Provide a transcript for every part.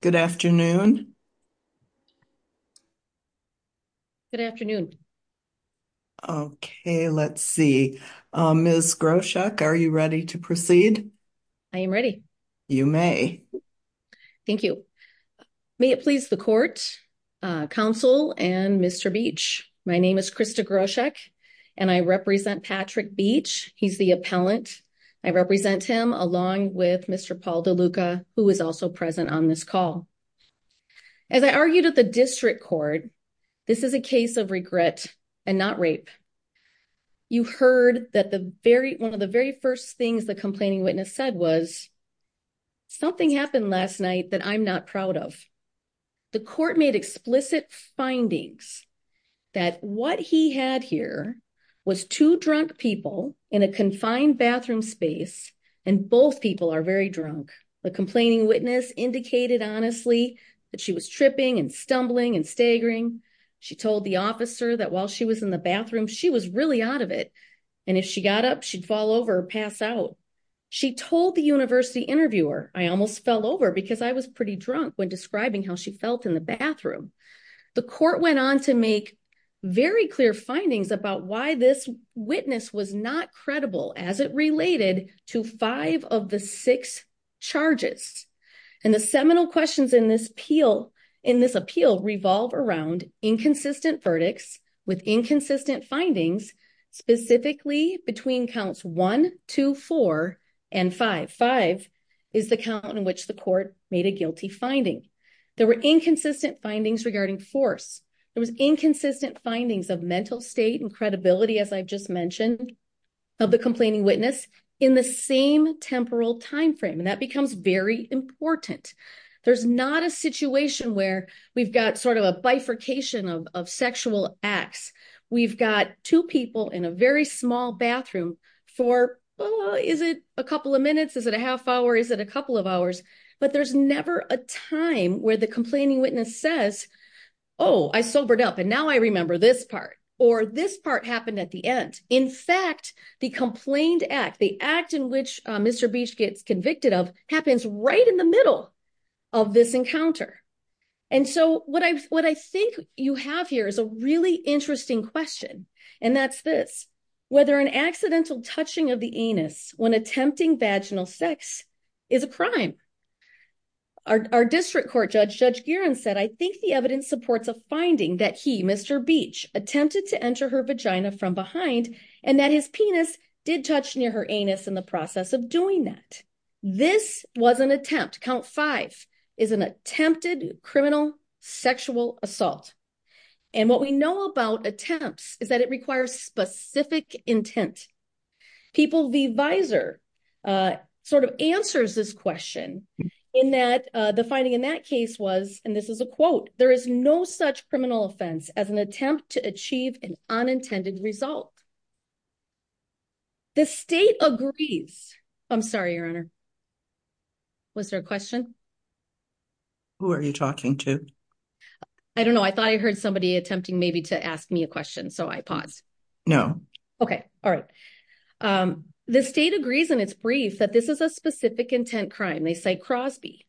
Good afternoon. Good afternoon. Okay, let's see. Ms. Groshek, are you ready to proceed? I am ready. You may. Thank you. May it please the court, counsel, and Mr. Beech. My name is Krista Groshek, and I represent Patrick Beech. He's the appellant. I represent him along with Mr. Paul DeLuca, who is also present on this call. As I argued at the district court, this is a case of regret and not rape. You heard that one of the very first things the complaining witness said was, something happened last night that I'm not proud of. The court made explicit findings that what he had here was two drunk people in a confined bathroom space, and both people are very drunk. The complaining witness indicated honestly that she was tripping and stumbling and staggering. She told the officer that while she was in the bathroom, she was really out of it, and if she got up, she'd fall over or pass out. She told the university interviewer, I almost fell over because I was pretty drunk when describing how she felt in the bathroom. The court went on to make very clear findings about why this witness was not credible as it related to five of the six charges. The seminal questions in this appeal revolve around inconsistent verdicts with inconsistent findings, specifically between counts one, two, four, and five. Five is the count in which the court made a guilty finding. There were inconsistent findings regarding force. There was inconsistent findings of mental state and credibility, as I've just mentioned, of the complaining witness in the same temporal timeframe, and that becomes very important. There's not a situation where we've got sort of a bifurcation of sexual acts. We've got two people in a very small bathroom for, well, is it a couple of minutes? Is it a half hour? Is it a couple of hours? But there's never a time where the complaining witness says, oh, I sobered up and now I remember this part, or this part happened at the end. In fact, the complained act, the act in which Mr. Beach gets convicted of happens right in the middle of this encounter. And so what I think you have here is a really interesting question, and that's this, whether an accidental touching of the anus when our district court judge, Judge Geeran, said, I think the evidence supports a finding that he, Mr. Beach, attempted to enter her vagina from behind, and that his penis did touch near her anus in the process of doing that. This was an attempt, count five, is an attempted criminal sexual assault. And what we know about attempts is that it requires specific intent. People, the advisor sort of answers this question in that the finding in that case was, and this is a quote, there is no such criminal offense as an attempt to achieve an unintended result. The state agrees. I'm sorry, Your Honor. Was there a question? Who are you talking to? I don't know. I thought I heard somebody attempting maybe to ask me a question, so I paused. No. Okay. All right. The state agrees, and it's brief, that this is a specific intent crime. They cite Crosby.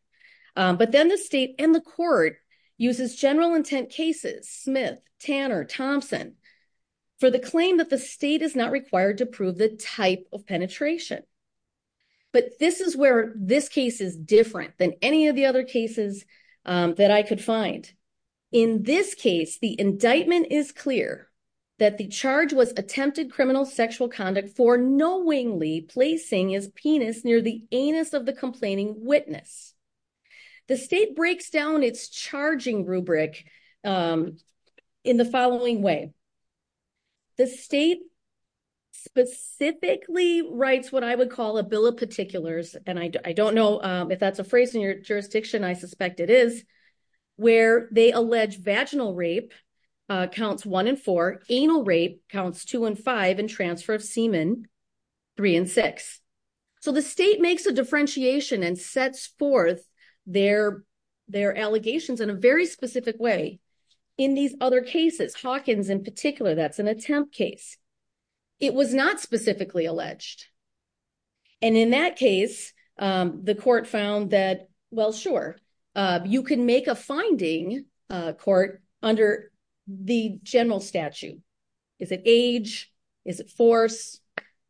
But then the state and the court uses general intent cases, Smith, Tanner, Thompson, for the claim that the state is not required to prove the type of penetration. But this is where this case is different than any of the other cases that I could find. In this case, the indictment is clear that the charge was attempted criminal sexual conduct for knowingly placing his penis near the anus of the complaining witness. The state breaks down its charging rubric in the following way. The state specifically writes what I would call a bill of particulars, and I don't know if that's a jurisdiction. I suspect it is, where they allege vaginal rape counts one and four, anal rape counts two and five, and transfer of semen, three and six. So the state makes a differentiation and sets forth their allegations in a very specific way. In these other cases, Hawkins in particular, that's an attempt case. It was not specifically alleged. And in that case, the court found that, well, sure, you can make a finding court under the general statute. Is it age? Is it force?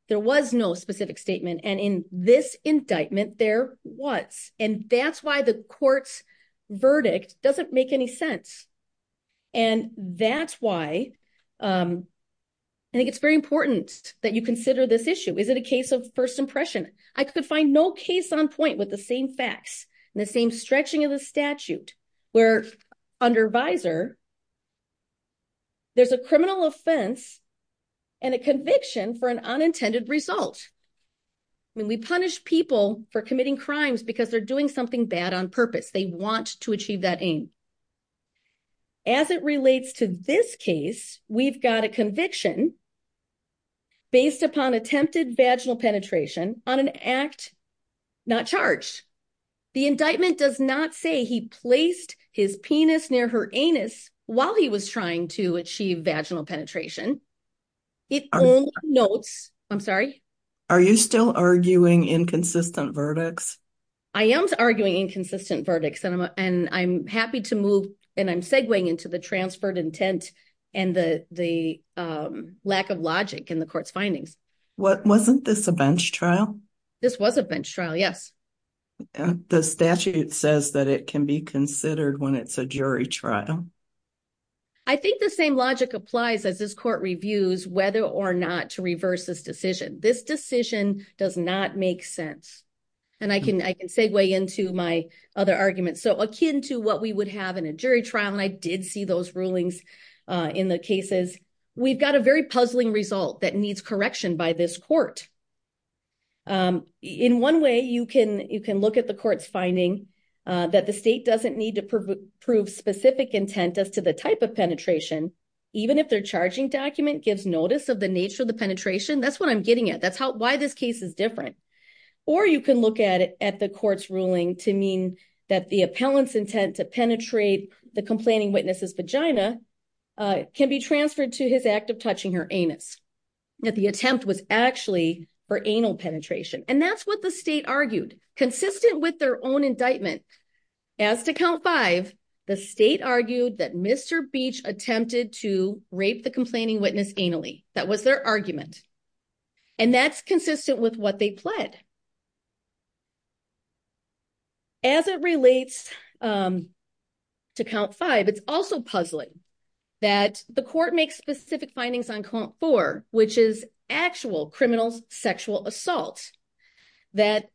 There was no specific statement. And in this indictment, there was. And that's why the court's verdict doesn't make any sense. And that's why I think it's very important that you case on point with the same facts and the same stretching of the statute, where under visor, there's a criminal offense and a conviction for an unintended result. I mean, we punish people for committing crimes because they're doing something bad on purpose. They want to achieve that aim. As it relates to this case, we've got a conviction based upon attempted vaginal penetration on an act not charged. The indictment does not say he placed his penis near her anus while he was trying to achieve vaginal penetration. It only notes, I'm sorry, are you still arguing inconsistent verdicts? I am arguing inconsistent verdicts. And I'm happy to move and I'm segueing into the transferred intent and the lack of logic in the court's findings. Wasn't this a bench trial? This was a bench trial, yes. The statute says that it can be considered when it's a jury trial. I think the same logic applies as this court reviews whether or not to reverse this decision. This decision does not make sense. And I can segue into my other arguments. So akin to what we would have in a jury trial, and I did see those rulings in the cases, we've got a very puzzling result that needs correction by this court. In one way, you can look at the court's finding that the state doesn't need to prove specific intent as to the type of penetration, even if their charging document gives notice of the nature of the penetration. That's what I'm getting at. That's why this case is different. Or you can look at it at the court's ruling to mean that the appellant's intent to penetrate the complaining witness's vagina can be transferred to his act of touching her anus, that the attempt was actually for anal penetration. And that's what the state argued, consistent with their own indictment. As to count five, the state argued that Mr. Beach attempted to rape the complaining witness anally. That was their argument. And that's consistent with what they pled. As it relates to count five, it's also puzzling that the court makes specific findings on count four, which is actual criminal sexual assault, that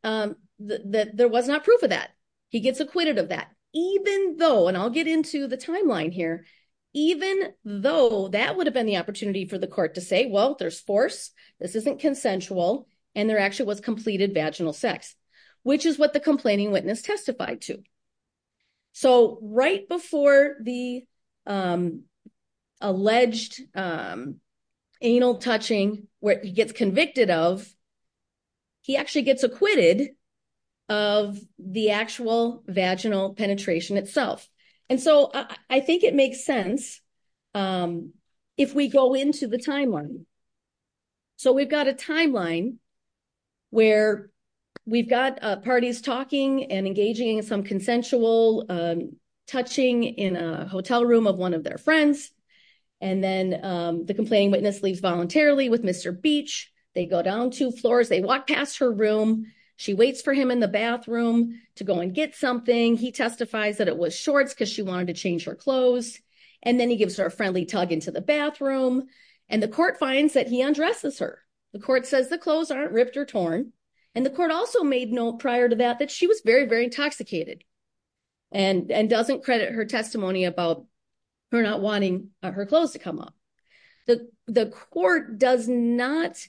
there was not proof of that. He gets acquitted of that, even though, and I'll get into the timeline here, even though that would have been the opportunity for the court to say, well, there's force, this isn't consensual, and there actually was completed vaginal sex, which is what the complaining witness testified to. So right before the alleged anal touching, where he gets convicted of, he actually gets acquitted of the actual vaginal penetration itself. And so I think it makes sense if we go into the timeline. So we've got a timeline where we've got parties talking and engaging in some consensual touching in a hotel room of one of their friends. And then the complaining witness leaves voluntarily with Mr. Beach. They go down two floors. They walk past her room. She waits for him in the bathroom to go and get something. He testifies that it was shorts because she wanted to change her clothes. And then he gives her a friendly tug into the bathroom. And the court finds that he undresses her. The court says the clothes aren't ripped or torn. And the court also made note prior to that, that she was very, very intoxicated and doesn't credit her testimony about her not wanting her clothes to come off. The court does not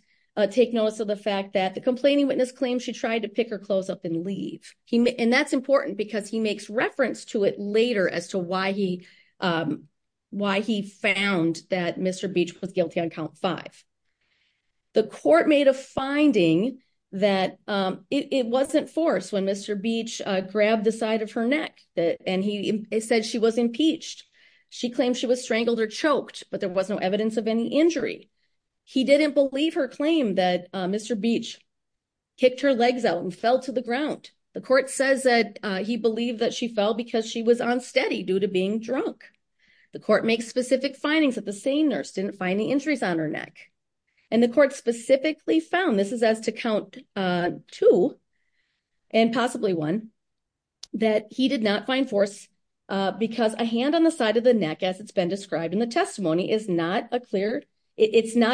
take notice of the fact that the complaining witness claims she tried to pick her clothes up and leave. And that's important because he makes reference to it later as to why he found that Mr. Beach was guilty on count five. The court made a finding that it wasn't forced when Mr. Beach grabbed the side of her neck and he said she was impeached. She claimed she was strangled or choked, but there was no evidence of any injury. He didn't believe her claim that Mr. Beach kicked her legs out and fell to the ground. The court says that he believed that she fell because she was unsteady due to being drunk. The court makes specific findings that the same nurse didn't find any injuries on her neck. And the court specifically found, this is as to count two and possibly one, that he did not find force because a hand on the side of the neck as it's been described in the testimony, it's not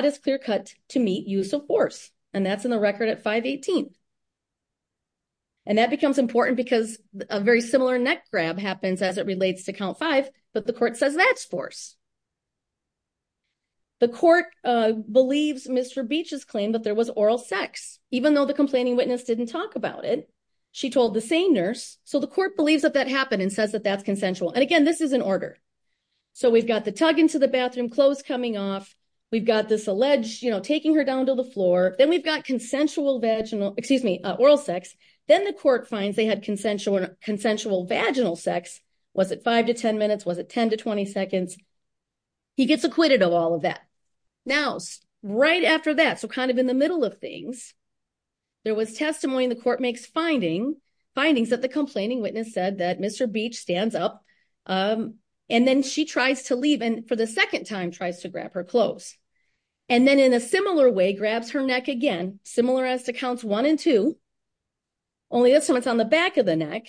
as clear cut to meet use of force. And that's in the record at 518. And that becomes important because a very similar neck grab happens as it relates to count five, but the court says that's force. The court believes Mr. Beach's claim that there was oral sex, even though the complaining witness didn't talk about it. She told the same nurse. So the court believes that that happened and says that that's consensual. And again, this is an order. So we've got the tug into the bathroom, clothes coming off. We've got this alleged, you know, taking her down to the floor. Then we've got consensual vaginal, excuse me, oral sex. Then the court finds they had consensual vaginal sex. Was it five to 10 minutes? Was it 10 to 20 seconds? He gets acquitted of all of that. Now, right after that, so kind of in the middle of things, there was testimony in the court makes findings that the complaining witness said that Mr. Beach stands up and then she tries to leave. And for the second time, tries to grab her clothes. And then in a similar way, grabs her neck again, similar as to counts one and two, only this time it's on the back of the neck.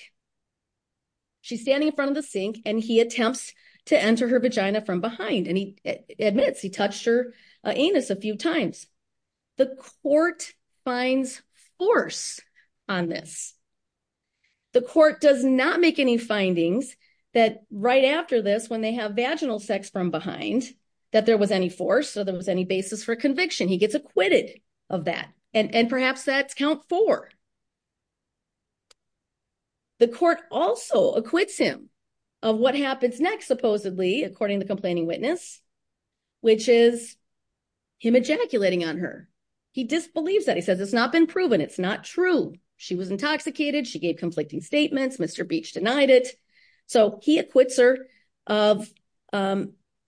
She's standing in front of the sink and he attempts to enter her vagina from behind. And he admits he touched her anus a few times. The court finds force on this. The court does not make any findings that right after this, when they have vaginal sex from behind, that there was any force. So there was any basis for conviction. He gets acquitted of that. And perhaps that's count four. The court also acquits him of what happens next, supposedly, according to the complaining witness, which is him ejaculating on her. He disbelieves that. He says it's not been proven. It's not true. She was intoxicated. She gave conflicting statements. Mr. Beach denied it. So he acquits her of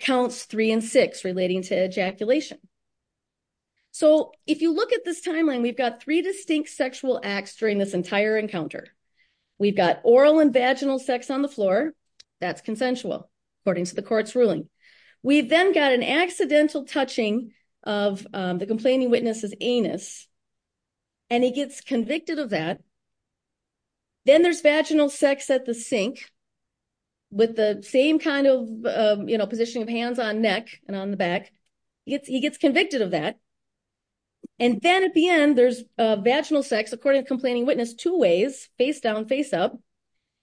counts three and six relating to ejaculation. So if you look at this timeline, we've got three distinct sexual acts during this entire encounter. We've got oral and vaginal sex on the floor. That's consensual, according to the court's ruling. We've then got an accidental touching of the complaining witness's anus. And he gets convicted of that. Then there's vaginal sex at the sink, with the same kind of, you know, positioning of hands on neck and on the back. He gets convicted of that. And then at the end, there's vaginal sex, according to complaining witness, two ways, face down, face up.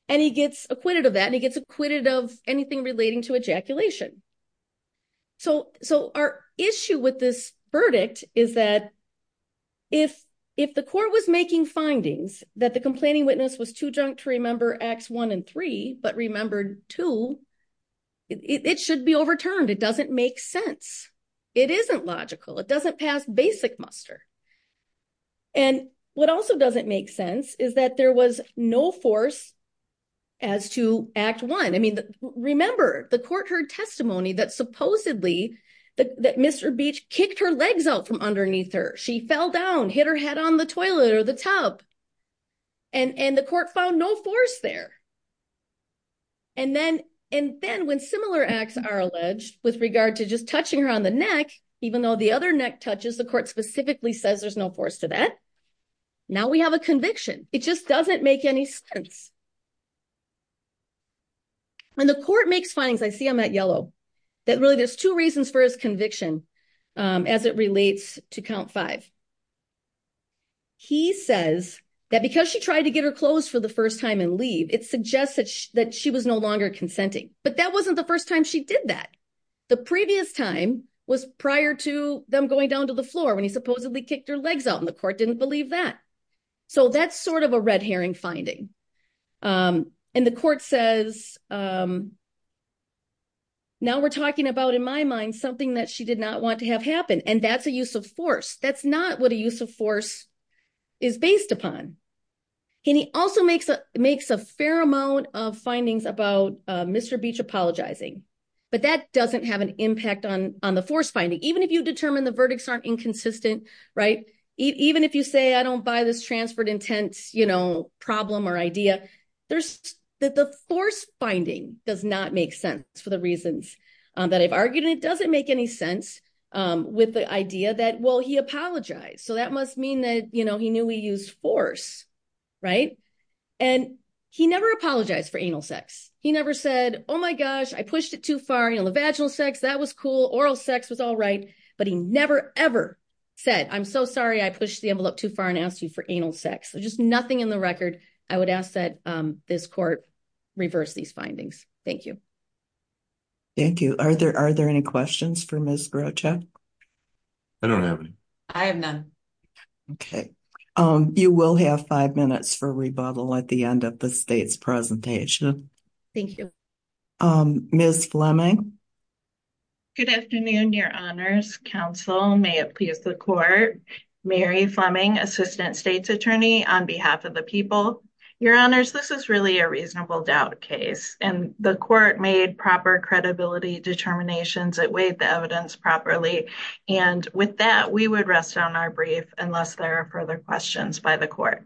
And he gets acquitted of that. And he gets acquitted of anything relating to ejaculation. So our issue with this verdict is that if the court was making findings that the complaining witness was too drunk to remember acts one and three, but remembered two, it should be overturned. It doesn't make sense. It isn't logical. It doesn't pass basic muster. And what also doesn't make sense is that there was no force as to act one. I mean, remember, the court heard testimony that supposedly that Mr. Beach kicked her legs out from underneath her. She fell down, hit her head on the toilet or the tub. And the court found no force there. And then when similar acts are alleged with regard to just touching her on the neck, even though the other neck touches, the court specifically says there's no force to that. Now we have a conviction. It just doesn't make any sense. And the court makes findings, I see on that yellow, that really there's two reasons for his conviction as it relates to count five. He says that because she tried to get her clothes for the first time and leave, it suggests that she was no longer consenting. But that wasn't the first time she did that. The previous time was prior to them going down to the floor when he supposedly kicked out and the court didn't believe that. So that's sort of a red herring finding. And the court says, now we're talking about, in my mind, something that she did not want to have happen. And that's a use of force. That's not what a use of force is based upon. And he also makes a fair amount of findings about Mr. Beach apologizing. But that doesn't have an impact on the force finding, even if you determine the verdicts aren't inconsistent. Even if you say, I don't buy this transferred intent problem or idea, the force finding does not make sense for the reasons that I've argued. And it doesn't make any sense with the idea that, well, he apologized. So that must mean that he knew we used force. And he never apologized for anal sex. He never said, oh, my gosh, I pushed it too far. You know, the vaginal sex, that was cool. Oral sex was all right. But he never, ever said, I'm so sorry I pushed the envelope too far and asked you for anal sex. So just nothing in the record. I would ask that this court reverse these findings. Thank you. Thank you. Are there any questions for Ms. Groucho? I don't have any. I have none. Okay. You will have five minutes for rebuttal at the end of the state's presentation. Thank you. Ms. Fleming. Good afternoon, Your Honors. Counsel, may it please the court. Mary Fleming, Assistant State's Attorney on behalf of the people. Your Honors, this is really a reasonable doubt case. And the court made proper credibility determinations that weighed the evidence properly. And with that, we would rest on our brief unless there are further questions by the court.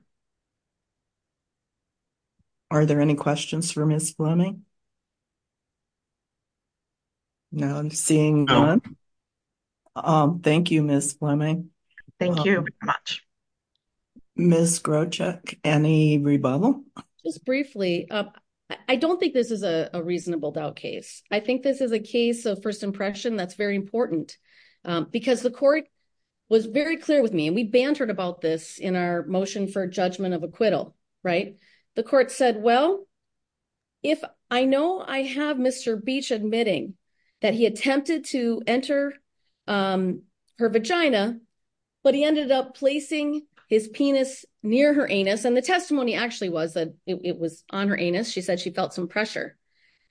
Are there any questions for Ms. Fleming? No, I'm seeing none. Thank you, Ms. Fleming. Thank you very much. Ms. Groucho, any rebuttal? Just briefly, I don't think this is a reasonable doubt case. I think this is a case of first impression that's very important. Because the court was very clear with me and we bantered about this in our motion for judgment of acquittal, right? The court said, well, if I know I have Mr. Beach admitting that he attempted to enter her vagina, but he ended up placing his penis near her anus. And the testimony actually was that it was on her anus. She said she felt some pressure.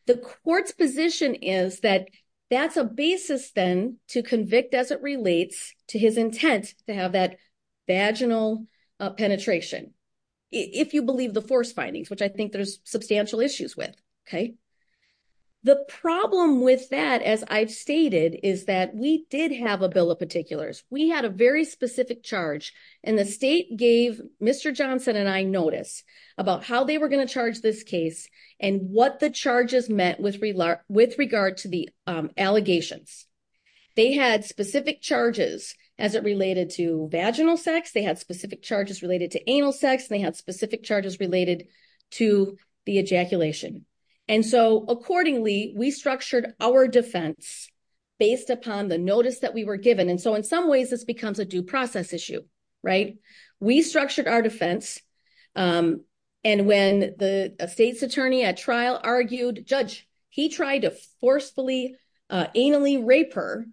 The court's position is that that's a basis then to convict as it relates to his intent to have that vaginal penetration. If you believe the force findings, which I think there's substantial issues with. The problem with that, as I've stated, is that we did have a bill of particulars. We had a very specific charge and the state gave Mr. Johnson and I notice about how they were going to charge this case and what the charges meant with regard to the allegations. They had specific charges as it related to vaginal sex. They had specific charges related to anal sex and they had specific charges related to the ejaculation. And so accordingly, we structured our defense based upon the notice that we were given. And so in some ways, this becomes a due process issue, right? We structured our defense. And when the state's attorney at trial argued, judge, he tried to forcefully, anally rape her.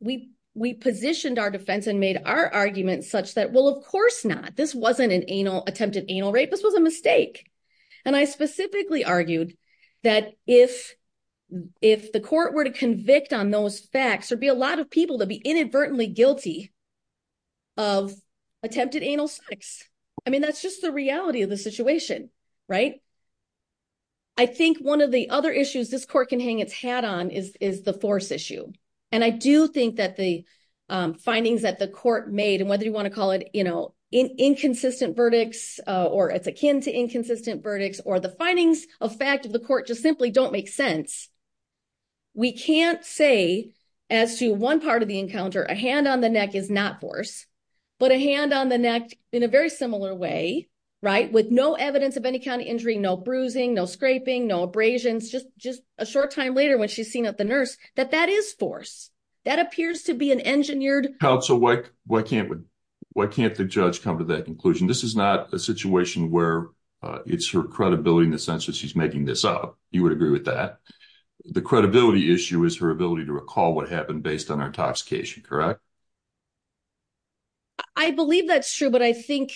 We positioned our defense and made our argument such that, well, of course not. This wasn't an attempted anal rape. This was a mistake. And I specifically argued that if the court were to convict on those facts, there'd be a lot of people that'd be inadvertently guilty of attempted anal sex. I mean, that's just the reality of the issues. This court can hang its hat on is the force issue. And I do think that the findings that the court made and whether you want to call it inconsistent verdicts or it's akin to inconsistent verdicts or the findings of fact of the court just simply don't make sense. We can't say as to one part of the encounter, a hand on the neck is not force, but a hand on the neck in a very similar way, right? With no evidence of any kind of injury, no bruising, no scraping, no abrasions, just a short time later when she's seen at the nurse that that is force. That appears to be an engineered- Counsel, why can't the judge come to that conclusion? This is not a situation where it's her credibility in the sense that she's making this up. You would agree with that. The credibility issue is her ability to recall what happened based on her intoxication, correct? I believe that's true, but I think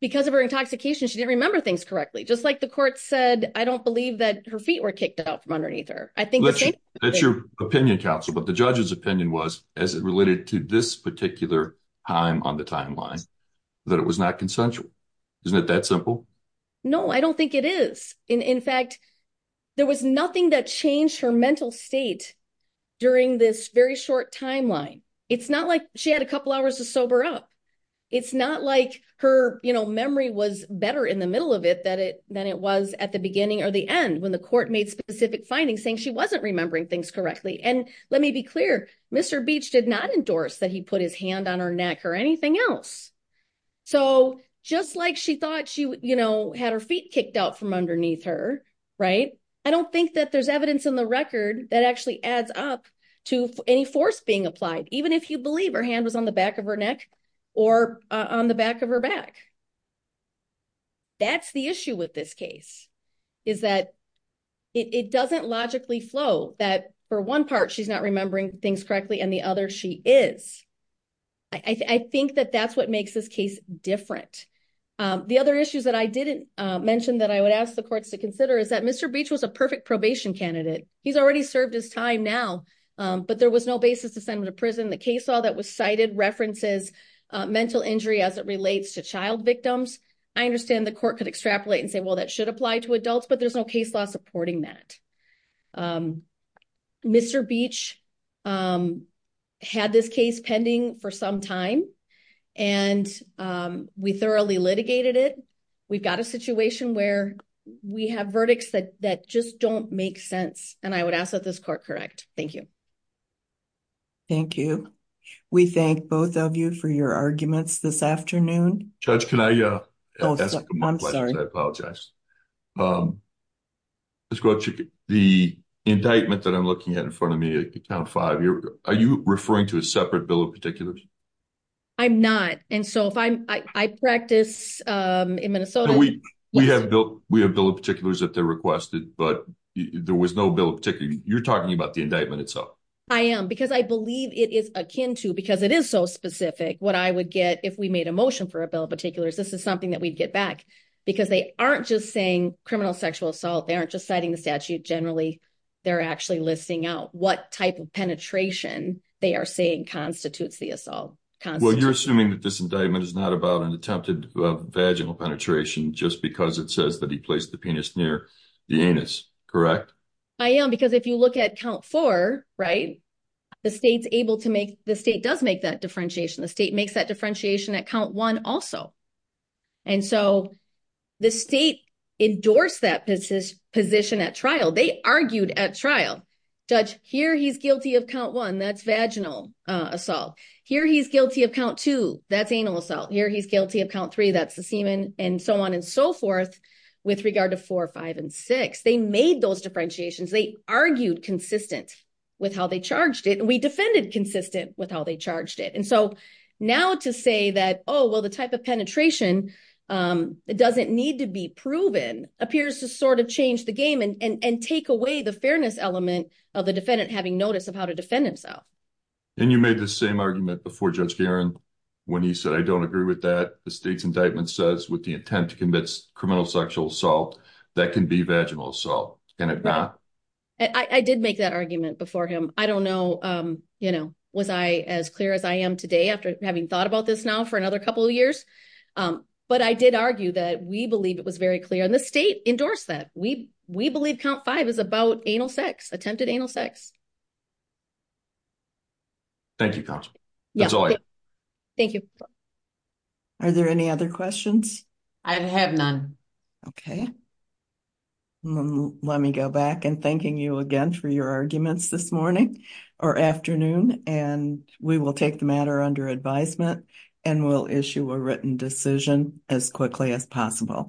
because of her intoxication, she didn't remember things correctly. Just like the court said, I don't believe that her feet were kicked out from underneath her. That's your opinion, counsel. But the judge's opinion was, as it related to this particular time on the timeline, that it was not consensual. Isn't it that simple? No, I don't think it is. In fact, there was nothing that changed her mental state during this very short timeline. It's not like she had a couple hours to sober up. It's not like her memory was better in the middle of it than it was at the beginning or the end, when the court made specific findings saying she wasn't remembering things correctly. And let me be clear, Mr. Beach did not endorse that he put his hand on her neck or anything else. Just like she thought she had her feet kicked out from underneath her, I don't think that there's evidence in the record that actually adds up to any force being applied. Even if you believe her hand was on the back of her neck, or on the back of her back. That's the issue with this case, is that it doesn't logically flow that for one part she's not remembering things correctly and the other she is. I think that that's what makes this case different. The other issues that I didn't mention that I would ask the courts to consider is that Mr. Beach was a perfect probation candidate. He's already served his time now, but there was no basis to send him to prison. The case law that was cited references mental injury as it relates to child victims. I understand the court could extrapolate and say, well, that should apply to adults, but there's no case law supporting that. Mr. Beach had this case pending for some time and we thoroughly litigated it. We've got a situation where we have verdicts that just don't make sense and I would ask that this court correct. Thank you. Thank you. We thank both of you for your arguments this afternoon. Judge, can I ask a couple of questions? I apologize. The indictment that I'm looking at in front of me at count five, are you referring to a separate bill of particulars? I'm not. I practice in Minnesota. We have bill of particulars that they requested, but there was no bill of particulars. You're I am because I believe it is akin to because it is so specific. What I would get if we made a motion for a bill of particulars, this is something that we'd get back because they aren't just saying criminal sexual assault. They aren't just citing the statute. Generally, they're actually listing out what type of penetration they are saying constitutes the assault. Well, you're assuming that this indictment is not about an attempted vaginal penetration just because it says that he placed the penis near the anus, correct? I am because if you look at count four, right, the state does make that differentiation. The state makes that differentiation at count one also. The state endorsed that position at trial. They argued at trial. Judge, here, he's guilty of count one. That's vaginal assault. Here, he's guilty of count two. That's anal assault. Here, he's guilty of count three. That's the argued consistent with how they charged it. We defended consistent with how they charged it. And so now to say that, oh, well, the type of penetration that doesn't need to be proven appears to sort of change the game and take away the fairness element of the defendant having notice of how to defend himself. And you made the same argument before Judge Guerin when he said, I don't agree with that. The state's indictment says with the attempt to commit criminal sexual assault, that can be vaginal assault. And if not, I did make that argument before him. I don't know. You know, was I as clear as I am today after having thought about this now for another couple of years? But I did argue that we believe it was very clear in the state endorsed that we we believe count five is about anal sex, attempted anal sex. Thank you. That's all. Thank you. Are there any other questions? I have none. Okay. Let me go back and thanking you again for your arguments this morning or afternoon. And we will take the matter under advisement and we'll issue a written decision as quickly as possible.